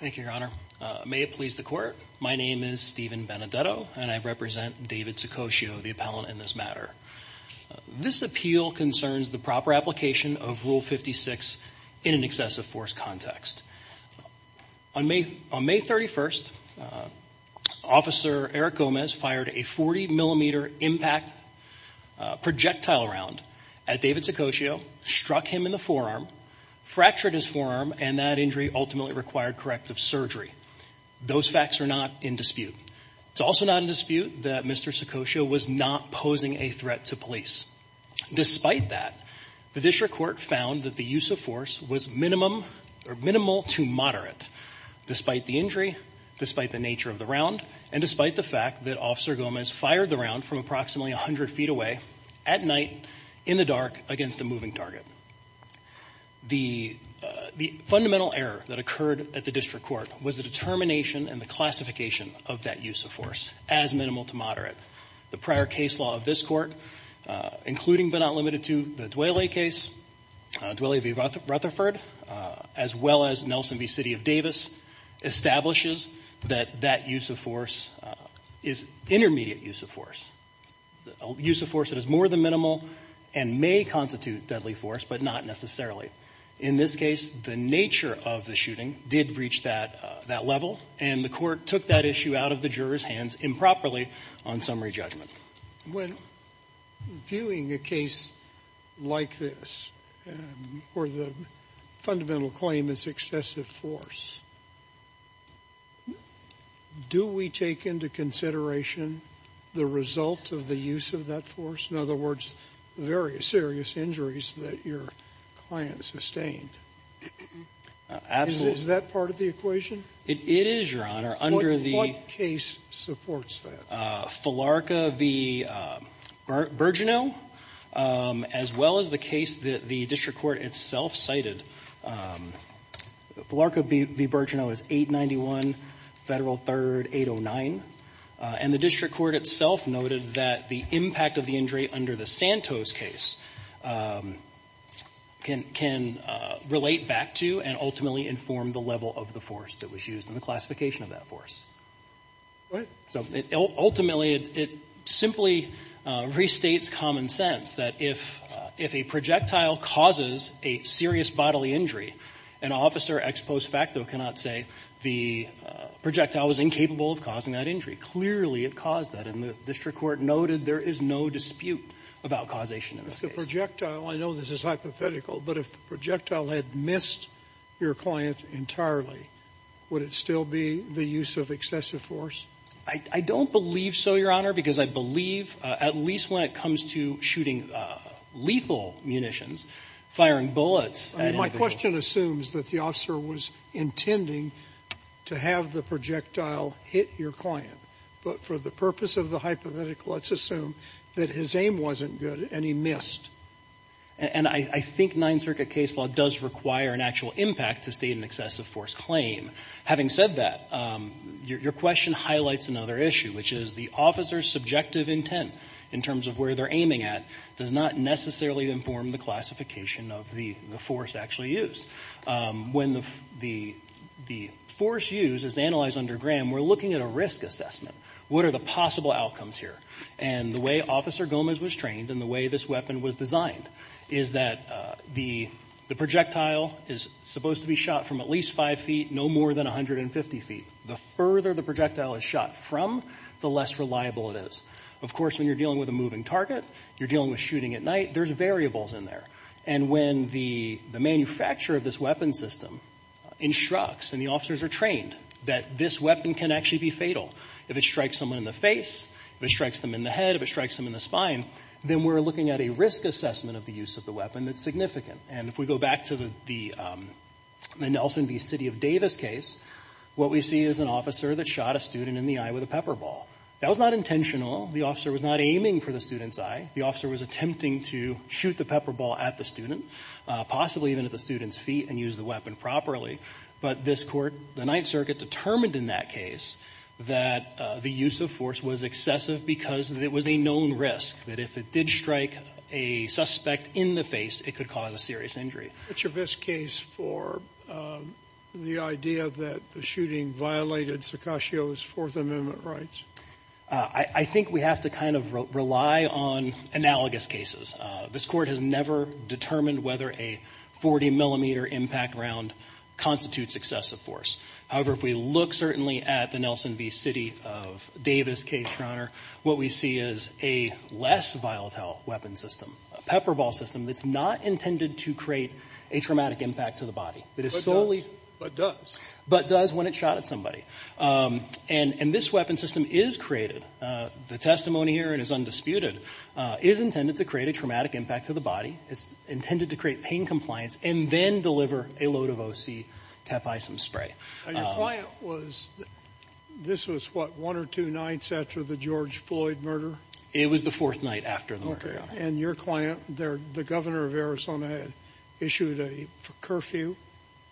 Thank you, Your Honor. May it please the Court, my name is Steven Benedetto and I represent David Saccoccio, the appellant in this matter. This appeal concerns the proper application of Rule 56 in an excessive force context. On May 31st, Officer Eric Gomez fired a 40-millimeter impact projectile round at David Saccoccio, struck him in the forearm, fractured his forearm, and that injury ultimately required corrective surgery. Those facts are not in dispute. It's also not in dispute that Mr. Saccoccio was not posing a threat to police. Despite that, the district court found that the use of force was minimal to moderate, despite the injury, despite the nature of the round, and despite the fact that Officer Gomez fired the round from approximately 100 feet away, at night, in the dark, against a moving target. The fundamental error that occurred at the district court was the determination and the classification of that use of force as minimal to moderate. The prior case law of this Court, including but not limited to the Dwele case, Dwele v. Rutherford, as well as Nelson v. City of Davis, establishes that that use of force is intermediate use of force, use of force that is more than minimal and may constitute deadly force, but not necessarily. In this case, the nature of the shooting did reach that level, and the Court took that issue out of the jurors' hands improperly on summary judgment. When viewing a case like this, where the fundamental claim is excessive force, do we take into consideration the result of the use of that force? In other words, the various serious injuries that your client sustained? Is that part of the equation? It is, Your Honor. Under the ---- What case supports that? Filarca v. Birgeneau, as well as the case that the district court itself cited. Filarca v. Birgeneau is 891 Federal 3rd 809, and the district court itself noted that the impact of the injury under the Santos case can relate back to and ultimately inform the level of the force that was used in the classification of that force. Go ahead. So ultimately, it simply restates common sense that if a projectile causes a serious bodily injury, an officer ex post facto cannot say the projectile was incapable of causing that injury. Clearly, it caused that. And the district court noted there is no dispute about causation in this case. It's a projectile. I know this is hypothetical, but if the projectile had missed your client entirely, would it still be the use of excessive force? I don't believe so, Your Honor, because I believe, at least when it comes to shooting lethal munitions, firing bullets at any of those ---- My question assumes that the officer was intending to have the projectile hit your client. But for the purpose of the hypothetical, let's assume that his aim wasn't good and he missed. And I think Ninth Circuit case law does require an actual impact to state an excessive force claim. Having said that, your question highlights another issue, which is the officer's subjective intent in terms of where they're aiming at does not necessarily inform the classification of the force actually used. When the force used is analyzed under Graham, we're looking at a risk assessment. What are the possible outcomes here? And the way Officer Gomez was trained and the way this weapon was designed is that the projectile is supposed to be shot from at least 5 feet, no more than 150 feet. The further the projectile is shot from, the less reliable it is. Of course, when you're dealing with a moving target, you're dealing with shooting at night, there's variables in there. And when the manufacturer of this weapon system instructs and the officers are trained that this weapon can actually be fatal if it strikes someone in the face, if it strikes them in the head, if it strikes them in the spine, then we're looking at a risk assessment of the use of the weapon that's significant. And if we go back to the Nelson v. City of Davis case, what we see is an officer that shot a student in the eye with a pepper ball. That was not intentional. The officer was not aiming for the student's eye. The officer was attempting to shoot the pepper ball at the student, possibly even at the student's feet, and use the weapon properly. But this Court, the Ninth Amendment use of force was excessive because it was a known risk, that if it did strike a suspect in the face, it could cause a serious injury. It's your best case for the idea that the shooting violated Saccascio's Fourth Amendment rights? I think we have to kind of rely on analogous cases. This Court has never determined whether a 40-millimeter impact round constitutes excessive force. However, if we look certainly at the Nelson v. City of Davis case, Your Honor, what we see is a less volatile weapon system, a pepper ball system, that's not intended to create a traumatic impact to the body. It is solely But does. But does when it shot at somebody. And this weapon system is created, the testimony here and is undisputed, is intended to create a traumatic impact to the body. It's intended to create pain compliance and then deliver a load of O.C. tepisum spray. Your client was, this was what, one or two nights after the George Floyd murder? It was the fourth night after the murder, Your Honor. And your client, the governor of Arizona, issued a curfew?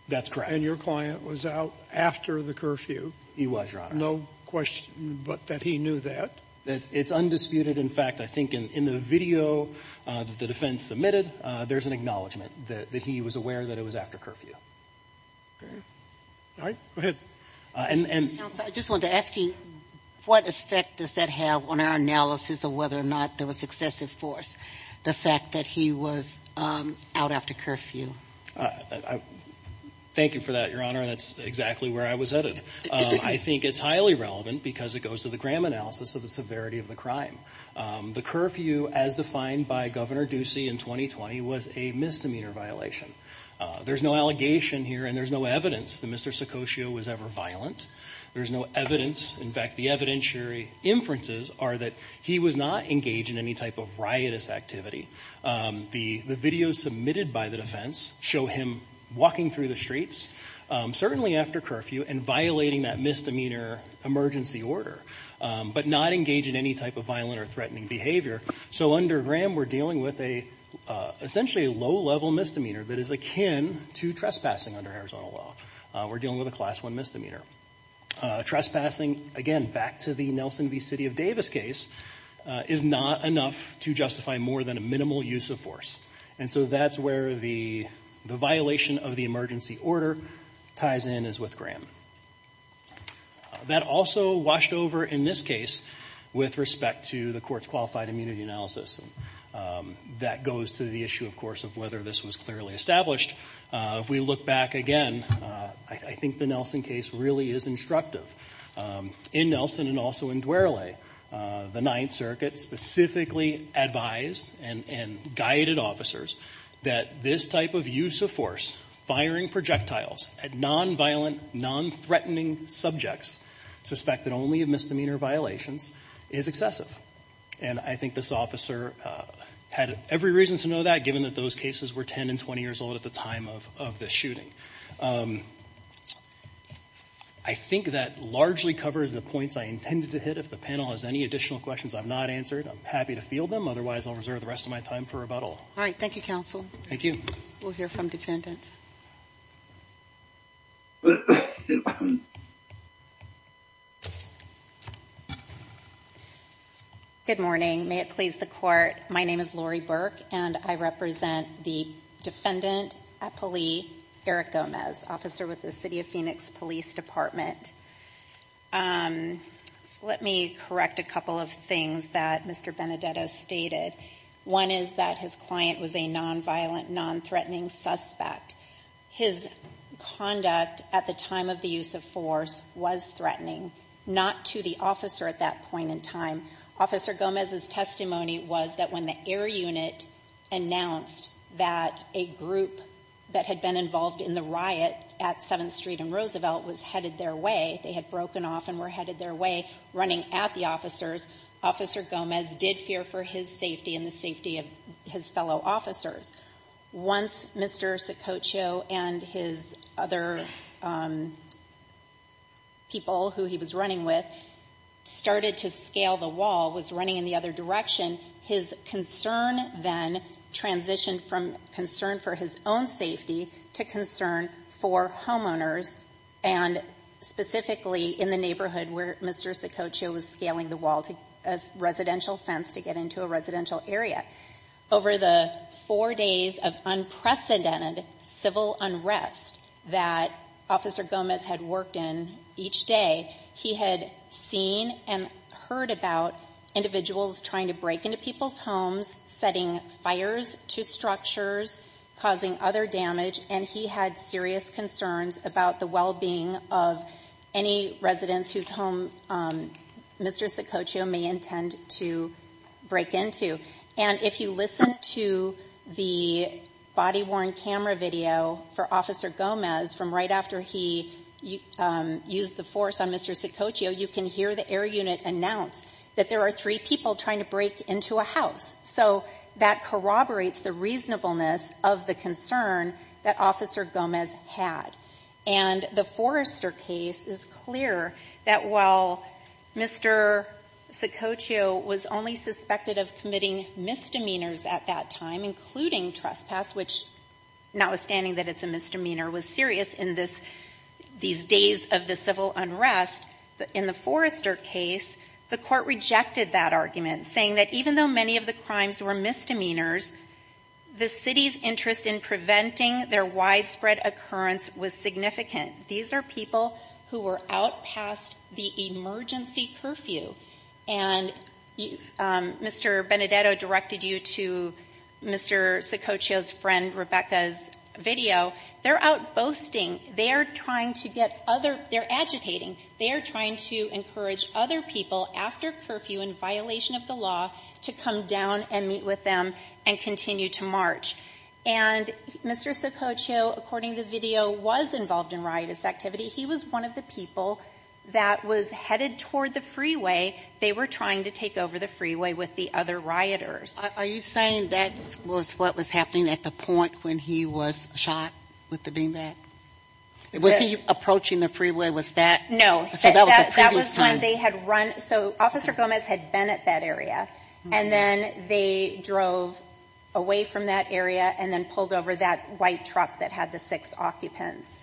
That's correct. And your client was out after the curfew? He was, Your Honor. No question but that he knew that? It's undisputed. In fact, I think in the video that the defense submitted, there's an acknowledgment that he was aware that it was after curfew. Okay. All right. Go ahead. Counsel, I just wanted to ask you, what effect does that have on our analysis of whether or not there was excessive force, the fact that he was out after curfew? Thank you for that, Your Honor, and that's exactly where I was headed. I think it's highly relevant because it goes to the Graham analysis of the severity of the crime. The curfew, as defined by Governor Ducey in 2020, was a misdemeanor violation. There's no allegation here and there's no evidence that Mr. Sicoccio was ever violent. There's no evidence. In fact, the evidentiary inferences are that he was not engaged in any type of riotous activity. The videos submitted by the defense show him walking through the streets, certainly after curfew, and violating that misdemeanor emergency order, but not engaged in any type of violent or threatening behavior. So under Graham, we're dealing with essentially a low-level misdemeanor that is akin to trespassing under Arizona law. We're dealing with a Class I misdemeanor. Trespassing, again, back to the Nelson v. City of Davis case, is not enough to justify more than a minimal use of force. And so that's where the violation of the emergency order ties in as with Graham. That also washed over, in this case, with respect to the court's qualified immunity analysis. That goes to the issue, of course, of whether this was clearly established. If we look back again, I think the Nelson case really is instructive. In Nelson and also in Duerle, the Ninth Circuit specifically advised and guided officers that this type of use of force, firing projectiles at nonviolent, nonthreatening subjects suspected only of misdemeanor violations, is excessive. And I think this officer had every reason to know that, given that those cases were 10 and 20 years old at the time of this shooting. I think that largely covers the points I intended to hit. If the panel has any additional questions I've not answered, I'm happy to field them. Otherwise, I'll reserve the rest of my time for rebuttal. All right. Thank you, counsel. Thank you. We'll hear from defendants. Good morning. May it please the court. My name is Lori Burke, and I represent the defendant at police, Eric Gomez, officer with the City of Phoenix Police Department. Let me correct a couple of things that Mr. Benedetto stated. One is that his client was a nonviolent, nonthreatening suspect. His conduct at the time of the use of force was threatening, not to the officer at that point in time. Officer Gomez's testimony was that when the air unit announced that a group that had been involved in the riot at 7th Street and Roosevelt was headed their way, they had broken off and were headed their way, running at the officers, Officer Gomez did fear for his safety and the safety of his fellow officers. Once Mr. Sococho and his other people who he was running with started to scale the wall, was running in the other direction, his concern then transitioned from concern for his own safety to concern for homeowners, and specifically in the neighborhood where Mr. Sococho was scaling the wall to a residential fence to get into a residential area. Over the four days of unprecedented civil unrest that Officer Gomez had worked in each day, he had seen and heard about individuals trying to break into people's homes, setting fires to structures, causing other damage, and he had serious concerns about the well-being of any residents whose home Mr. Sococho may intend to break into. And if you listen to the body-worn camera video for Officer Gomez from right after he used the force on Mr. Sococho, you can hear the air unit announce that there are three people trying to break into a house. So that corroborates the reasonableness of the concern that Officer Gomez had. And the Forrester case is clear that while Mr. Sococho was only suspected of committing misdemeanors at that time, including trespass, which notwithstanding that it's a misdemeanor, was serious in this — these days of the civil unrest, in the Forrester case, the Court rejected that argument, saying that even though many of the crimes were misdemeanors, the city's interest in preventing their widespread occurrence was significant. These are people who were out past the emergency curfew. And Mr. Benedetto directed you to Mr. Sococho's friend Rebecca's video. They're out boasting. They are trying to get other — they're agitating. They are trying to encourage other people, after curfew and violation of the law, to come down and meet with them and continue to march. And Mr. Sococho, according to the video, was involved in riotous activity. He was one of the people that was headed toward the freeway. They were trying to take over the freeway with the other rioters. Are you saying that was what was happening at the point when he was shot with the beanbag? Was he approaching the freeway? Was that — No, that was when they had run — so Officer Gomez had been at that area. And then they drove away from that area and then pulled over that white truck that had the six occupants.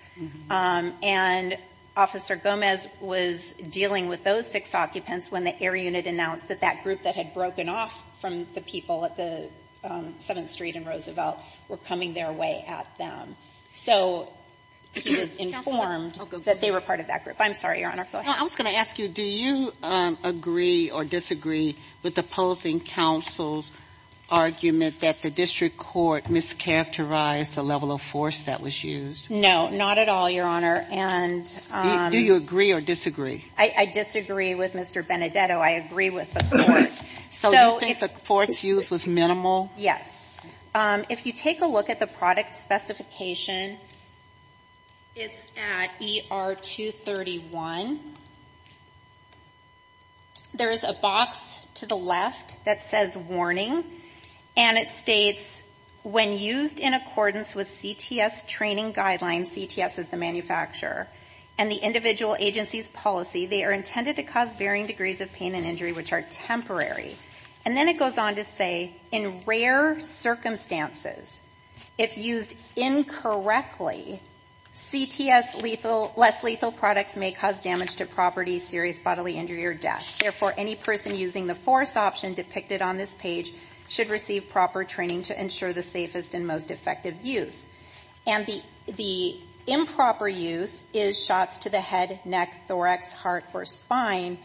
And Officer Gomez was dealing with those six occupants when the Air Unit announced that that group that had broken off from the people at the 7th Street and Roosevelt were coming their way at them. So he was informed that they were part of that group. I'm sorry, Your Honor, go ahead. I was going to ask you, do you agree or disagree with the opposing counsel's argument that the district court mischaracterized the level of force that was used? No, not at all, Your Honor. And — Do you agree or disagree? I disagree with Mr. Benedetto. I agree with the court. So you think the court's use was minimal? Yes. If you take a look at the product specification, it's at ER-231. There is a box to the left that says warning. And it states, when used in accordance with CTS training guidelines — CTS is the manufacturer — and the individual agency's policy, they are intended to cause varying degrees of pain and injury which are temporary. And then it goes on to say, in rare circumstances, if used incorrectly, CTS less lethal products may cause damage to property, serious bodily injury, or death. Therefore, any person using the force option depicted on this page should receive proper training to ensure the safest and most effective use. And the improper use is shots to the head, neck, thorax, heart, or spine.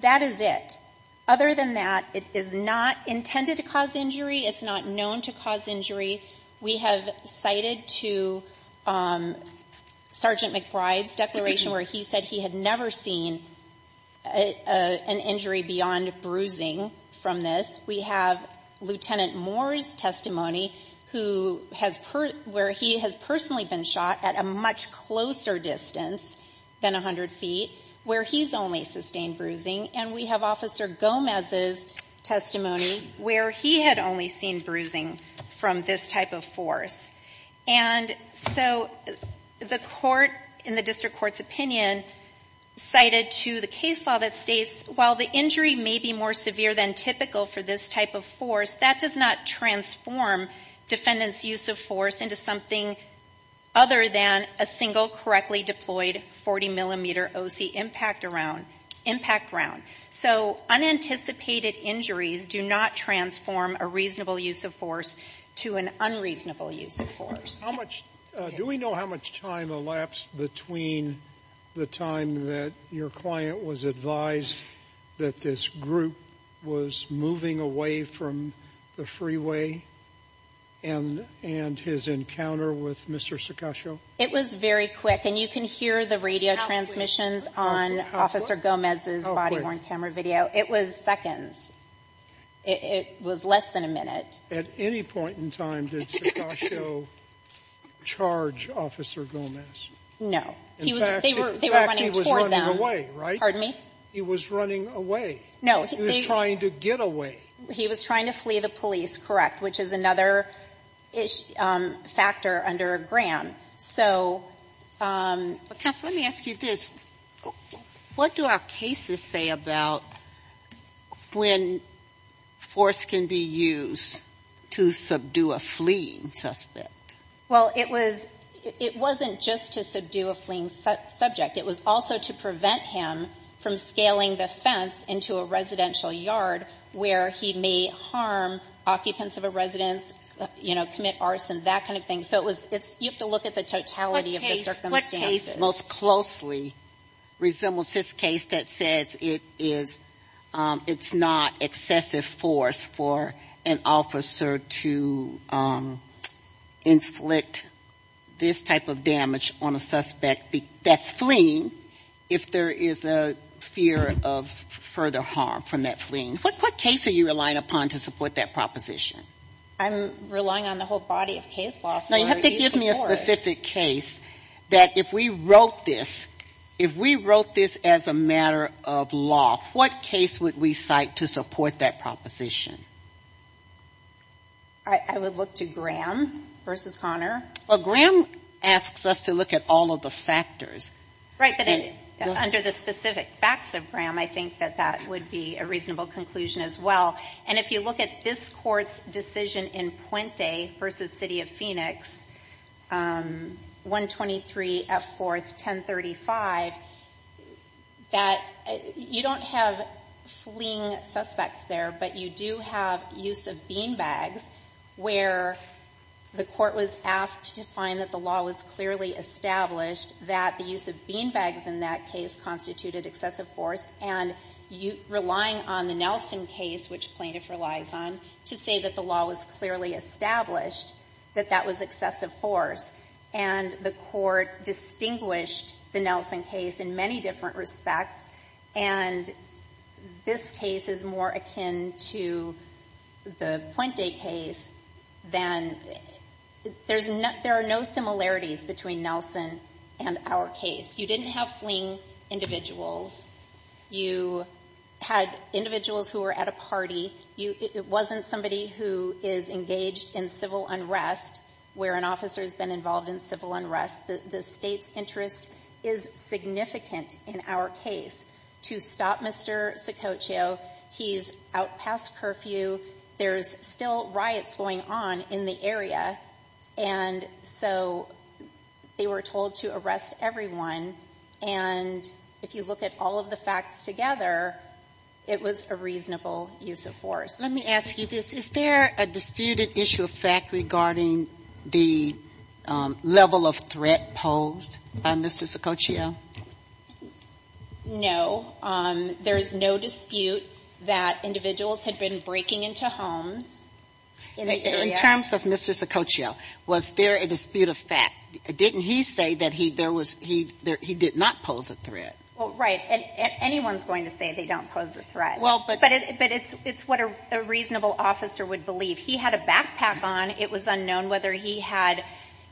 That is it. Other than that, it is not intended to cause injury. It's not known to cause injury. We have cited to Sergeant McBride's declaration where he said he had never seen an injury beyond bruising from this. We have Lieutenant Moore's testimony who has — where he has personally been shot at a much closer distance than 100 feet, where he's only sustained bruising. And we have Officer Gomez's testimony where he had only seen bruising from this type of force. And so the court, in the district court's opinion, cited to the case law that states while the injury may be more severe than typical for this type of force, that does not transform defendant's use of force into something other than a single correctly deployed 40-millimeter O.C. impact around — impact round. So unanticipated injuries do not transform a reasonable use of force to an unreasonable use of force. How much — do we know how much time elapsed between the time that your client was advised that this group was moving away from the freeway and — and his encounter with Mr. Sekasho? It was very quick. And you can hear the radio transmissions on Officer Gomez's body-worn camera video. It was seconds. It was less than a minute. At any point in time, did Sekasho charge Officer Gomez? No. In fact, he was running away, right? Pardon me? He was running away. No. He was trying to get away. He was trying to flee the police, correct, which is another factor under Graham. So — But, counsel, let me ask you this. What do our cases say about when force can be used to subdue a fleeing suspect? Well, it was — it wasn't just to subdue a fleeing subject. It was also to prevent him from scaling the fence into a residential yard where he may harm occupants of a residence, you know, commit arson, that kind of thing. You have to look at the totality of the circumstances. What case most closely resembles this case that says it's not excessive force for an officer to inflict this type of damage on a suspect that's fleeing if there is a fear of further harm from that fleeing? What case are you relying upon to support that proposition? I'm relying on the whole body of case law. Now, you have to give me a specific case that if we wrote this — if we wrote this as a matter of law, what case would we cite to support that proposition? I would look to Graham versus Connor. Well, Graham asks us to look at all of the factors. Right, but under the specific facts of Graham, I think that that would be a reasonable conclusion as well. And if you look at this Court's decision in Puente versus City of Phoenix, 123 F. 4th, 1035, that — you don't have fleeing suspects there, but you do have use of beanbags where the Court was asked to find that the law was clearly established that the use of beanbags in that case constituted excessive force. And you — relying on the Nelson case, which plaintiff relies on, to say that the law was clearly established, that that was excessive force. And the Court distinguished the Nelson case in many different respects, and this case is more akin to the Puente case than — there's no — there are no similarities between Nelson and our case. You didn't have fleeing individuals. You had individuals who were at a party. It wasn't somebody who is engaged in civil unrest where an officer has been involved in civil unrest. The state's interest is significant in our case to stop Mr. Saccoccio. He's out past curfew. There's still riots going on in the area. And so they were told to arrest everyone. And if you look at all of the facts together, it was a reasonable use of force. Sotomayor, let me ask you this. Is there a disputed issue of fact regarding the level of threat posed by Mr. Saccoccio? No. There is no dispute that individuals had been breaking into homes in the area. In terms of Mr. Saccoccio, was there a dispute of fact? Didn't he say that he — there was — he did not pose a threat? Well, right. And anyone's going to say they don't pose a threat. Well, but — But it's what a reasonable officer would believe. He had a backpack on. It was unknown whether he had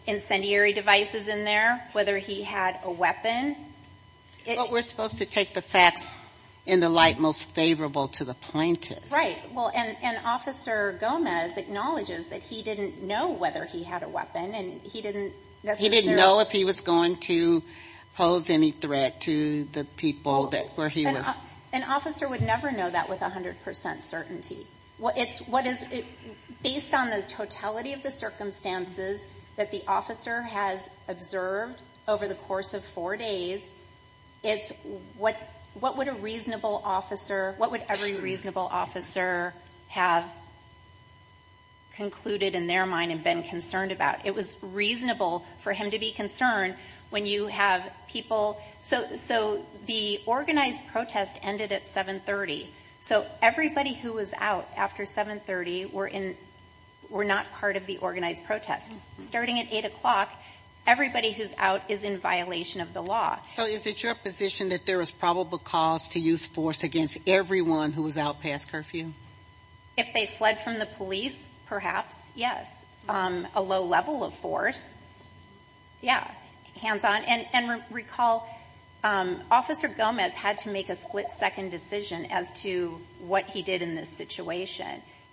incendiary devices in there, whether he had a weapon. But we're supposed to take the facts in the light most favorable to the plaintiff. Right. Well, and Officer Gomez acknowledges that he didn't know whether he had a weapon, and he didn't necessarily — He didn't know if he was going to pose any threat to the people that — where he was — An officer would never know that with 100 percent certainty. It's what is — based on the totality of the circumstances that the officer has observed over the course of four days, it's what would a reasonable officer — what would every reasonable officer have concluded in their mind and been concerned about? It was reasonable for him to be concerned when you have people — So the organized protest ended at 730. So everybody who was out after 730 were in — were not part of the organized protest. Starting at 8 o'clock, everybody who's out is in violation of the law. So is it your position that there was probable cause to use force against everyone who was out past curfew? If they fled from the police, perhaps, yes. A low level of force, yeah, hands-on. And — and recall, Officer Gomez had to make a split-second decision as to what he did in this situation.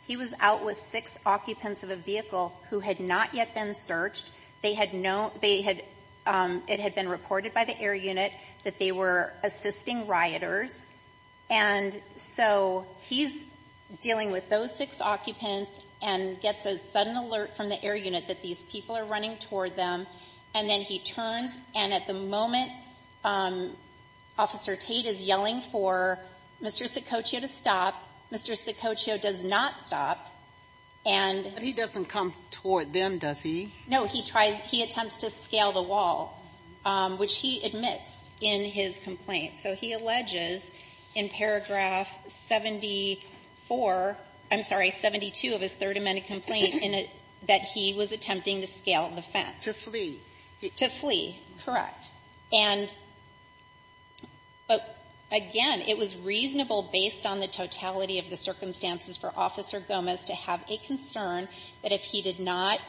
He was out with six occupants of a vehicle who had not yet been searched. They had no — they had — it had been reported by the air unit that they were assisting rioters, and so he's dealing with those six occupants and gets a sudden alert from the air unit that these people are running toward them, and then he turns, and at the moment, Officer Tate is yelling for Mr. Saccoccio to stop. Mr. Saccoccio does not stop, and — But he doesn't come toward them, does he? No. He tries — he attempts to scale the wall, which he admits in his complaint. So he alleges in paragraph 74 — I'm sorry, 72 of his Third Amendment complaint in a — that he was attempting to scale the fence. To flee. To flee. Correct. And again, it was reasonable, based on the totality of the circumstances for Officer Gomez to have a concern that if he did not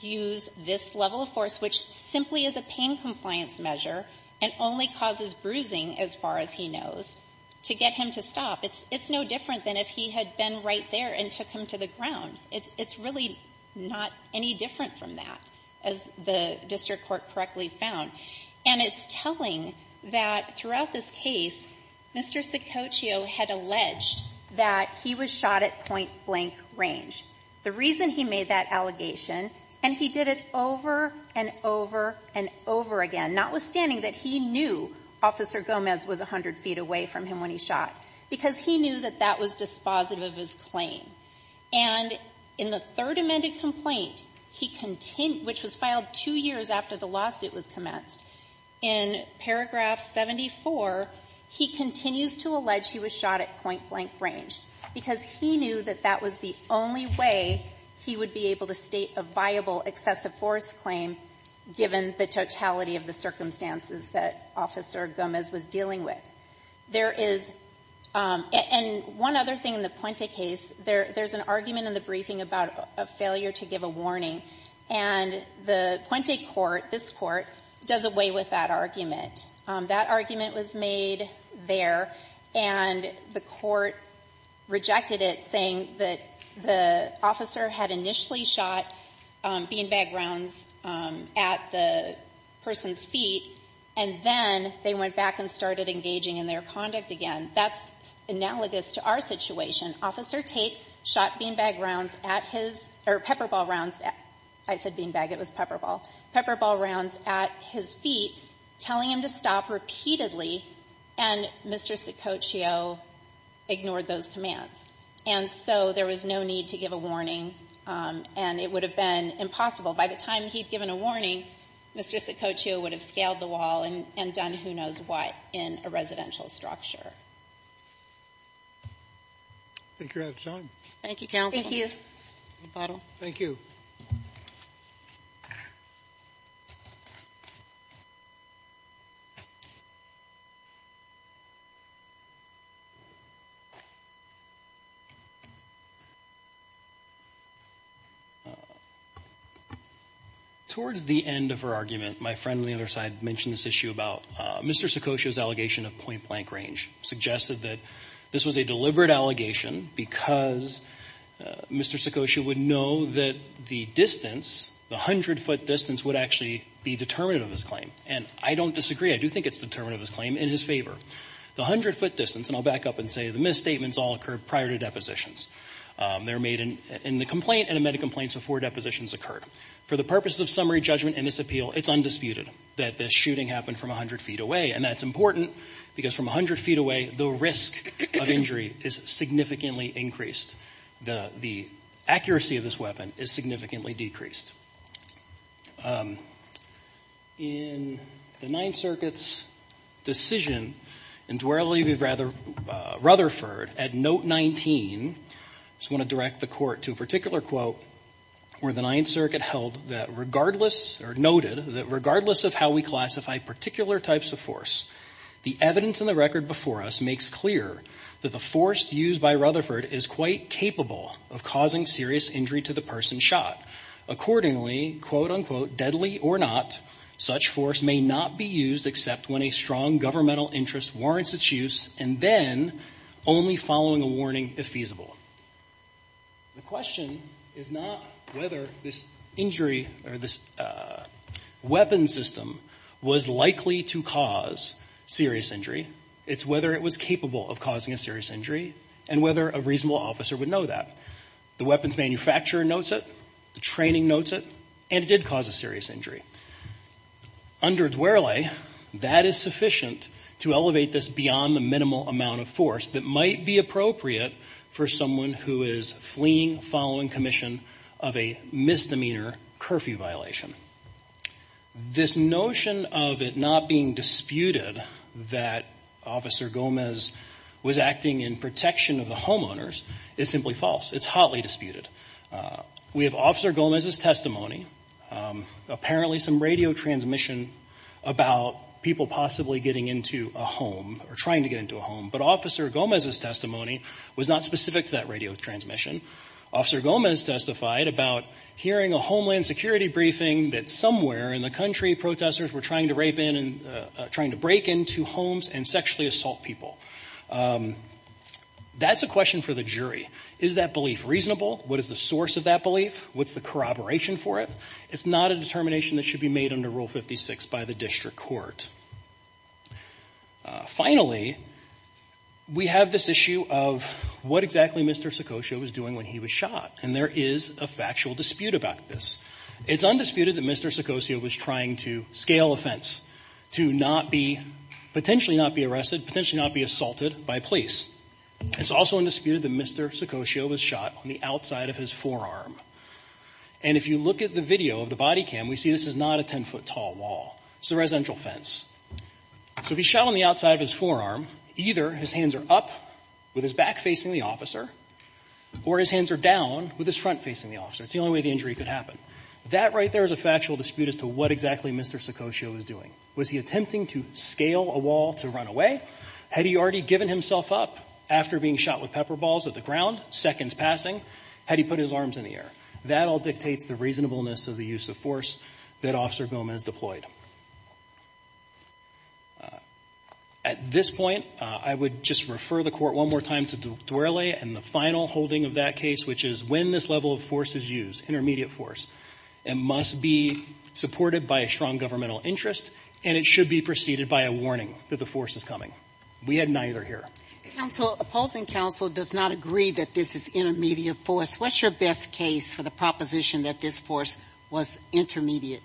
use this level of force, which simply is a pain compliance measure and only causes bruising, as far as he knows, to get him to stop. It's no different than if he had been right there and took him to the ground. It's really not any different from that, as the district court correctly found. And it's telling that throughout this case, Mr. Saccoccio had alleged that he was shot at point-blank range. The reason he made that allegation — and he did it over and over and over again, notwithstanding that he knew Officer Gomez was 100 feet away from him when he shot, because he knew that that was dispositive of his claim. And in the Third Amendment complaint, which was filed two years after the lawsuit was commenced, in paragraph 74, he continues to allege he was shot at point-blank range, because he knew that that was the only way he would be able to state a viable excessive force claim, given the totality of the circumstances that Officer Gomez was dealing with. There is — and one other thing in the Puente case, there's an argument in the briefing about a failure to give a warning, and the Puente court, this court, does away with that argument. That argument was made there, and the court rejected it, saying that the officer had initially shot beanbag rounds at the person's feet, and then they went back and started engaging in their conduct again. That's analogous to our situation. Officer Tate shot beanbag rounds at his — or pepperball rounds — I said beanbag, it was pepperball — pepperball rounds at his feet, telling him to stop repeatedly, and Mr. Sicoccio ignored those commands. And so there was no need to give a warning, and it would have been impossible. By the time he'd given a warning, Mr. Sicoccio would have scaled the wall and done who knows what in a residential structure. Thank you for your time. Thank you, counsel. Thank you. Thank you, Mr. McArdle. Thank you. Towards the end of her argument, my friend on the other side mentioned this issue about Mr. Sicoccio's allegation of point-blank range, suggested that this was a deliberate allegation because Mr. Sicoccio would know that the distance, the 100-foot distance, would actually be determinative of his claim. And I don't disagree. I do think it's determinative of his claim in his favor. The 100-foot distance — and I'll back up and say the misstatements all occurred prior to depositions. They're made in the complaint and in medical complaints before depositions occurred. For the purposes of summary judgment in this appeal, it's undisputed that this shooting happened from 100 feet away. And that's important because from 100 feet away, the risk of injury is significantly increased. The accuracy of this weapon is significantly decreased. In the Ninth Circuit's decision in Dwerlleby, Rutherford, at Note 19 — I just want to direct the Court to a particular quote where the Ninth Circuit held that regardless — or noted — that regardless of how we classify particular types of force, the evidence in the record before us makes clear that the force used by Rutherford is quite capable of causing serious injury to the person shot. Accordingly, quote-unquote, deadly or not, such force may not be used except when a strong governmental interest warrants its use and then only following a warning if feasible. The question is not whether this injury or this weapon system was likely to cause serious injury, it's whether it was capable of causing a serious injury and whether a reasonable officer would know that. The weapons manufacturer notes it, the training notes it, and it did cause a serious injury. Under Dwerlle, that is sufficient to elevate this beyond the minimal amount of force that might be appropriate for someone who is fleeing following commission of a misdemeanor curfew violation. This notion of it not being disputed that Officer Gomez was acting in protection of the homeowners is simply false. It's hotly disputed. We have Officer Gomez's testimony, apparently some radio transmission about people possibly getting into a home or trying to get into a home, but Officer Gomez's testimony was not specific to that radio transmission. Officer Gomez testified about hearing a Homeland Security briefing that somewhere in the country protesters were trying to rape in and trying to break into homes and sexually assault people. That's a question for the jury. Is that belief reasonable? What is the source of that belief? What's the corroboration for it? It's not a determination that should be made under Rule 56 by the district court. Finally, we have this issue of what exactly Mr. Seccosio was doing when he was shot. And there is a factual dispute about this. It's undisputed that Mr. Seccosio was trying to scale offense to not be, potentially not be arrested, potentially not be assaulted by police. It's also undisputed that Mr. Seccosio was shot on the outside of his forearm. And if you look at the video of the body cam, we see this is not a 10-foot-tall wall. It's a residential fence. So if he's shot on the outside of his forearm, either his hands are up with his back facing the officer or his hands are down with his front facing the officer. It's the only way the injury could happen. That right there is a factual dispute as to what exactly Mr. Seccosio was doing. Was he attempting to scale a wall to run away? Had he already given himself up after being shot with pepper balls at the ground, seconds passing? Had he put his arms in the air? That all dictates the reasonableness of the use of force that Officer Gomez deployed. At this point, I would just refer the Court one more time to Duerle and the final holding of that case, which is when this level of force is used, intermediate force, it must be supported by a strong governmental interest, and it should be preceded by a warning that the force is coming. We had neither here. Counsel, opposing counsel does not agree that this is intermediate force. What's your best case for the proposition that this force was intermediate?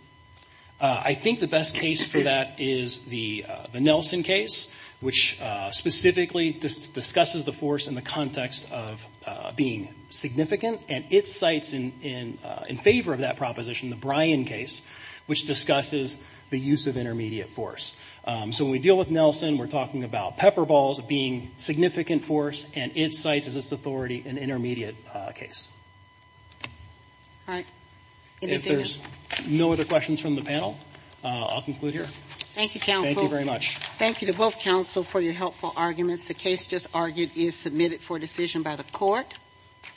I think the best case for that is the Nelson case, which specifically discusses the force in the context of being significant, and it cites in favor of that proposition the Bryan case, which discusses the use of intermediate force. So when we deal with Nelson, we're talking about pepper balls being significant force, and it cites as its authority an intermediate case. All right. If there's no other questions from the panel, I'll conclude here. Thank you, counsel. Thank you very much. Thank you to both counsel for your helpful arguments. The case just argued is submitted for decision by the Court.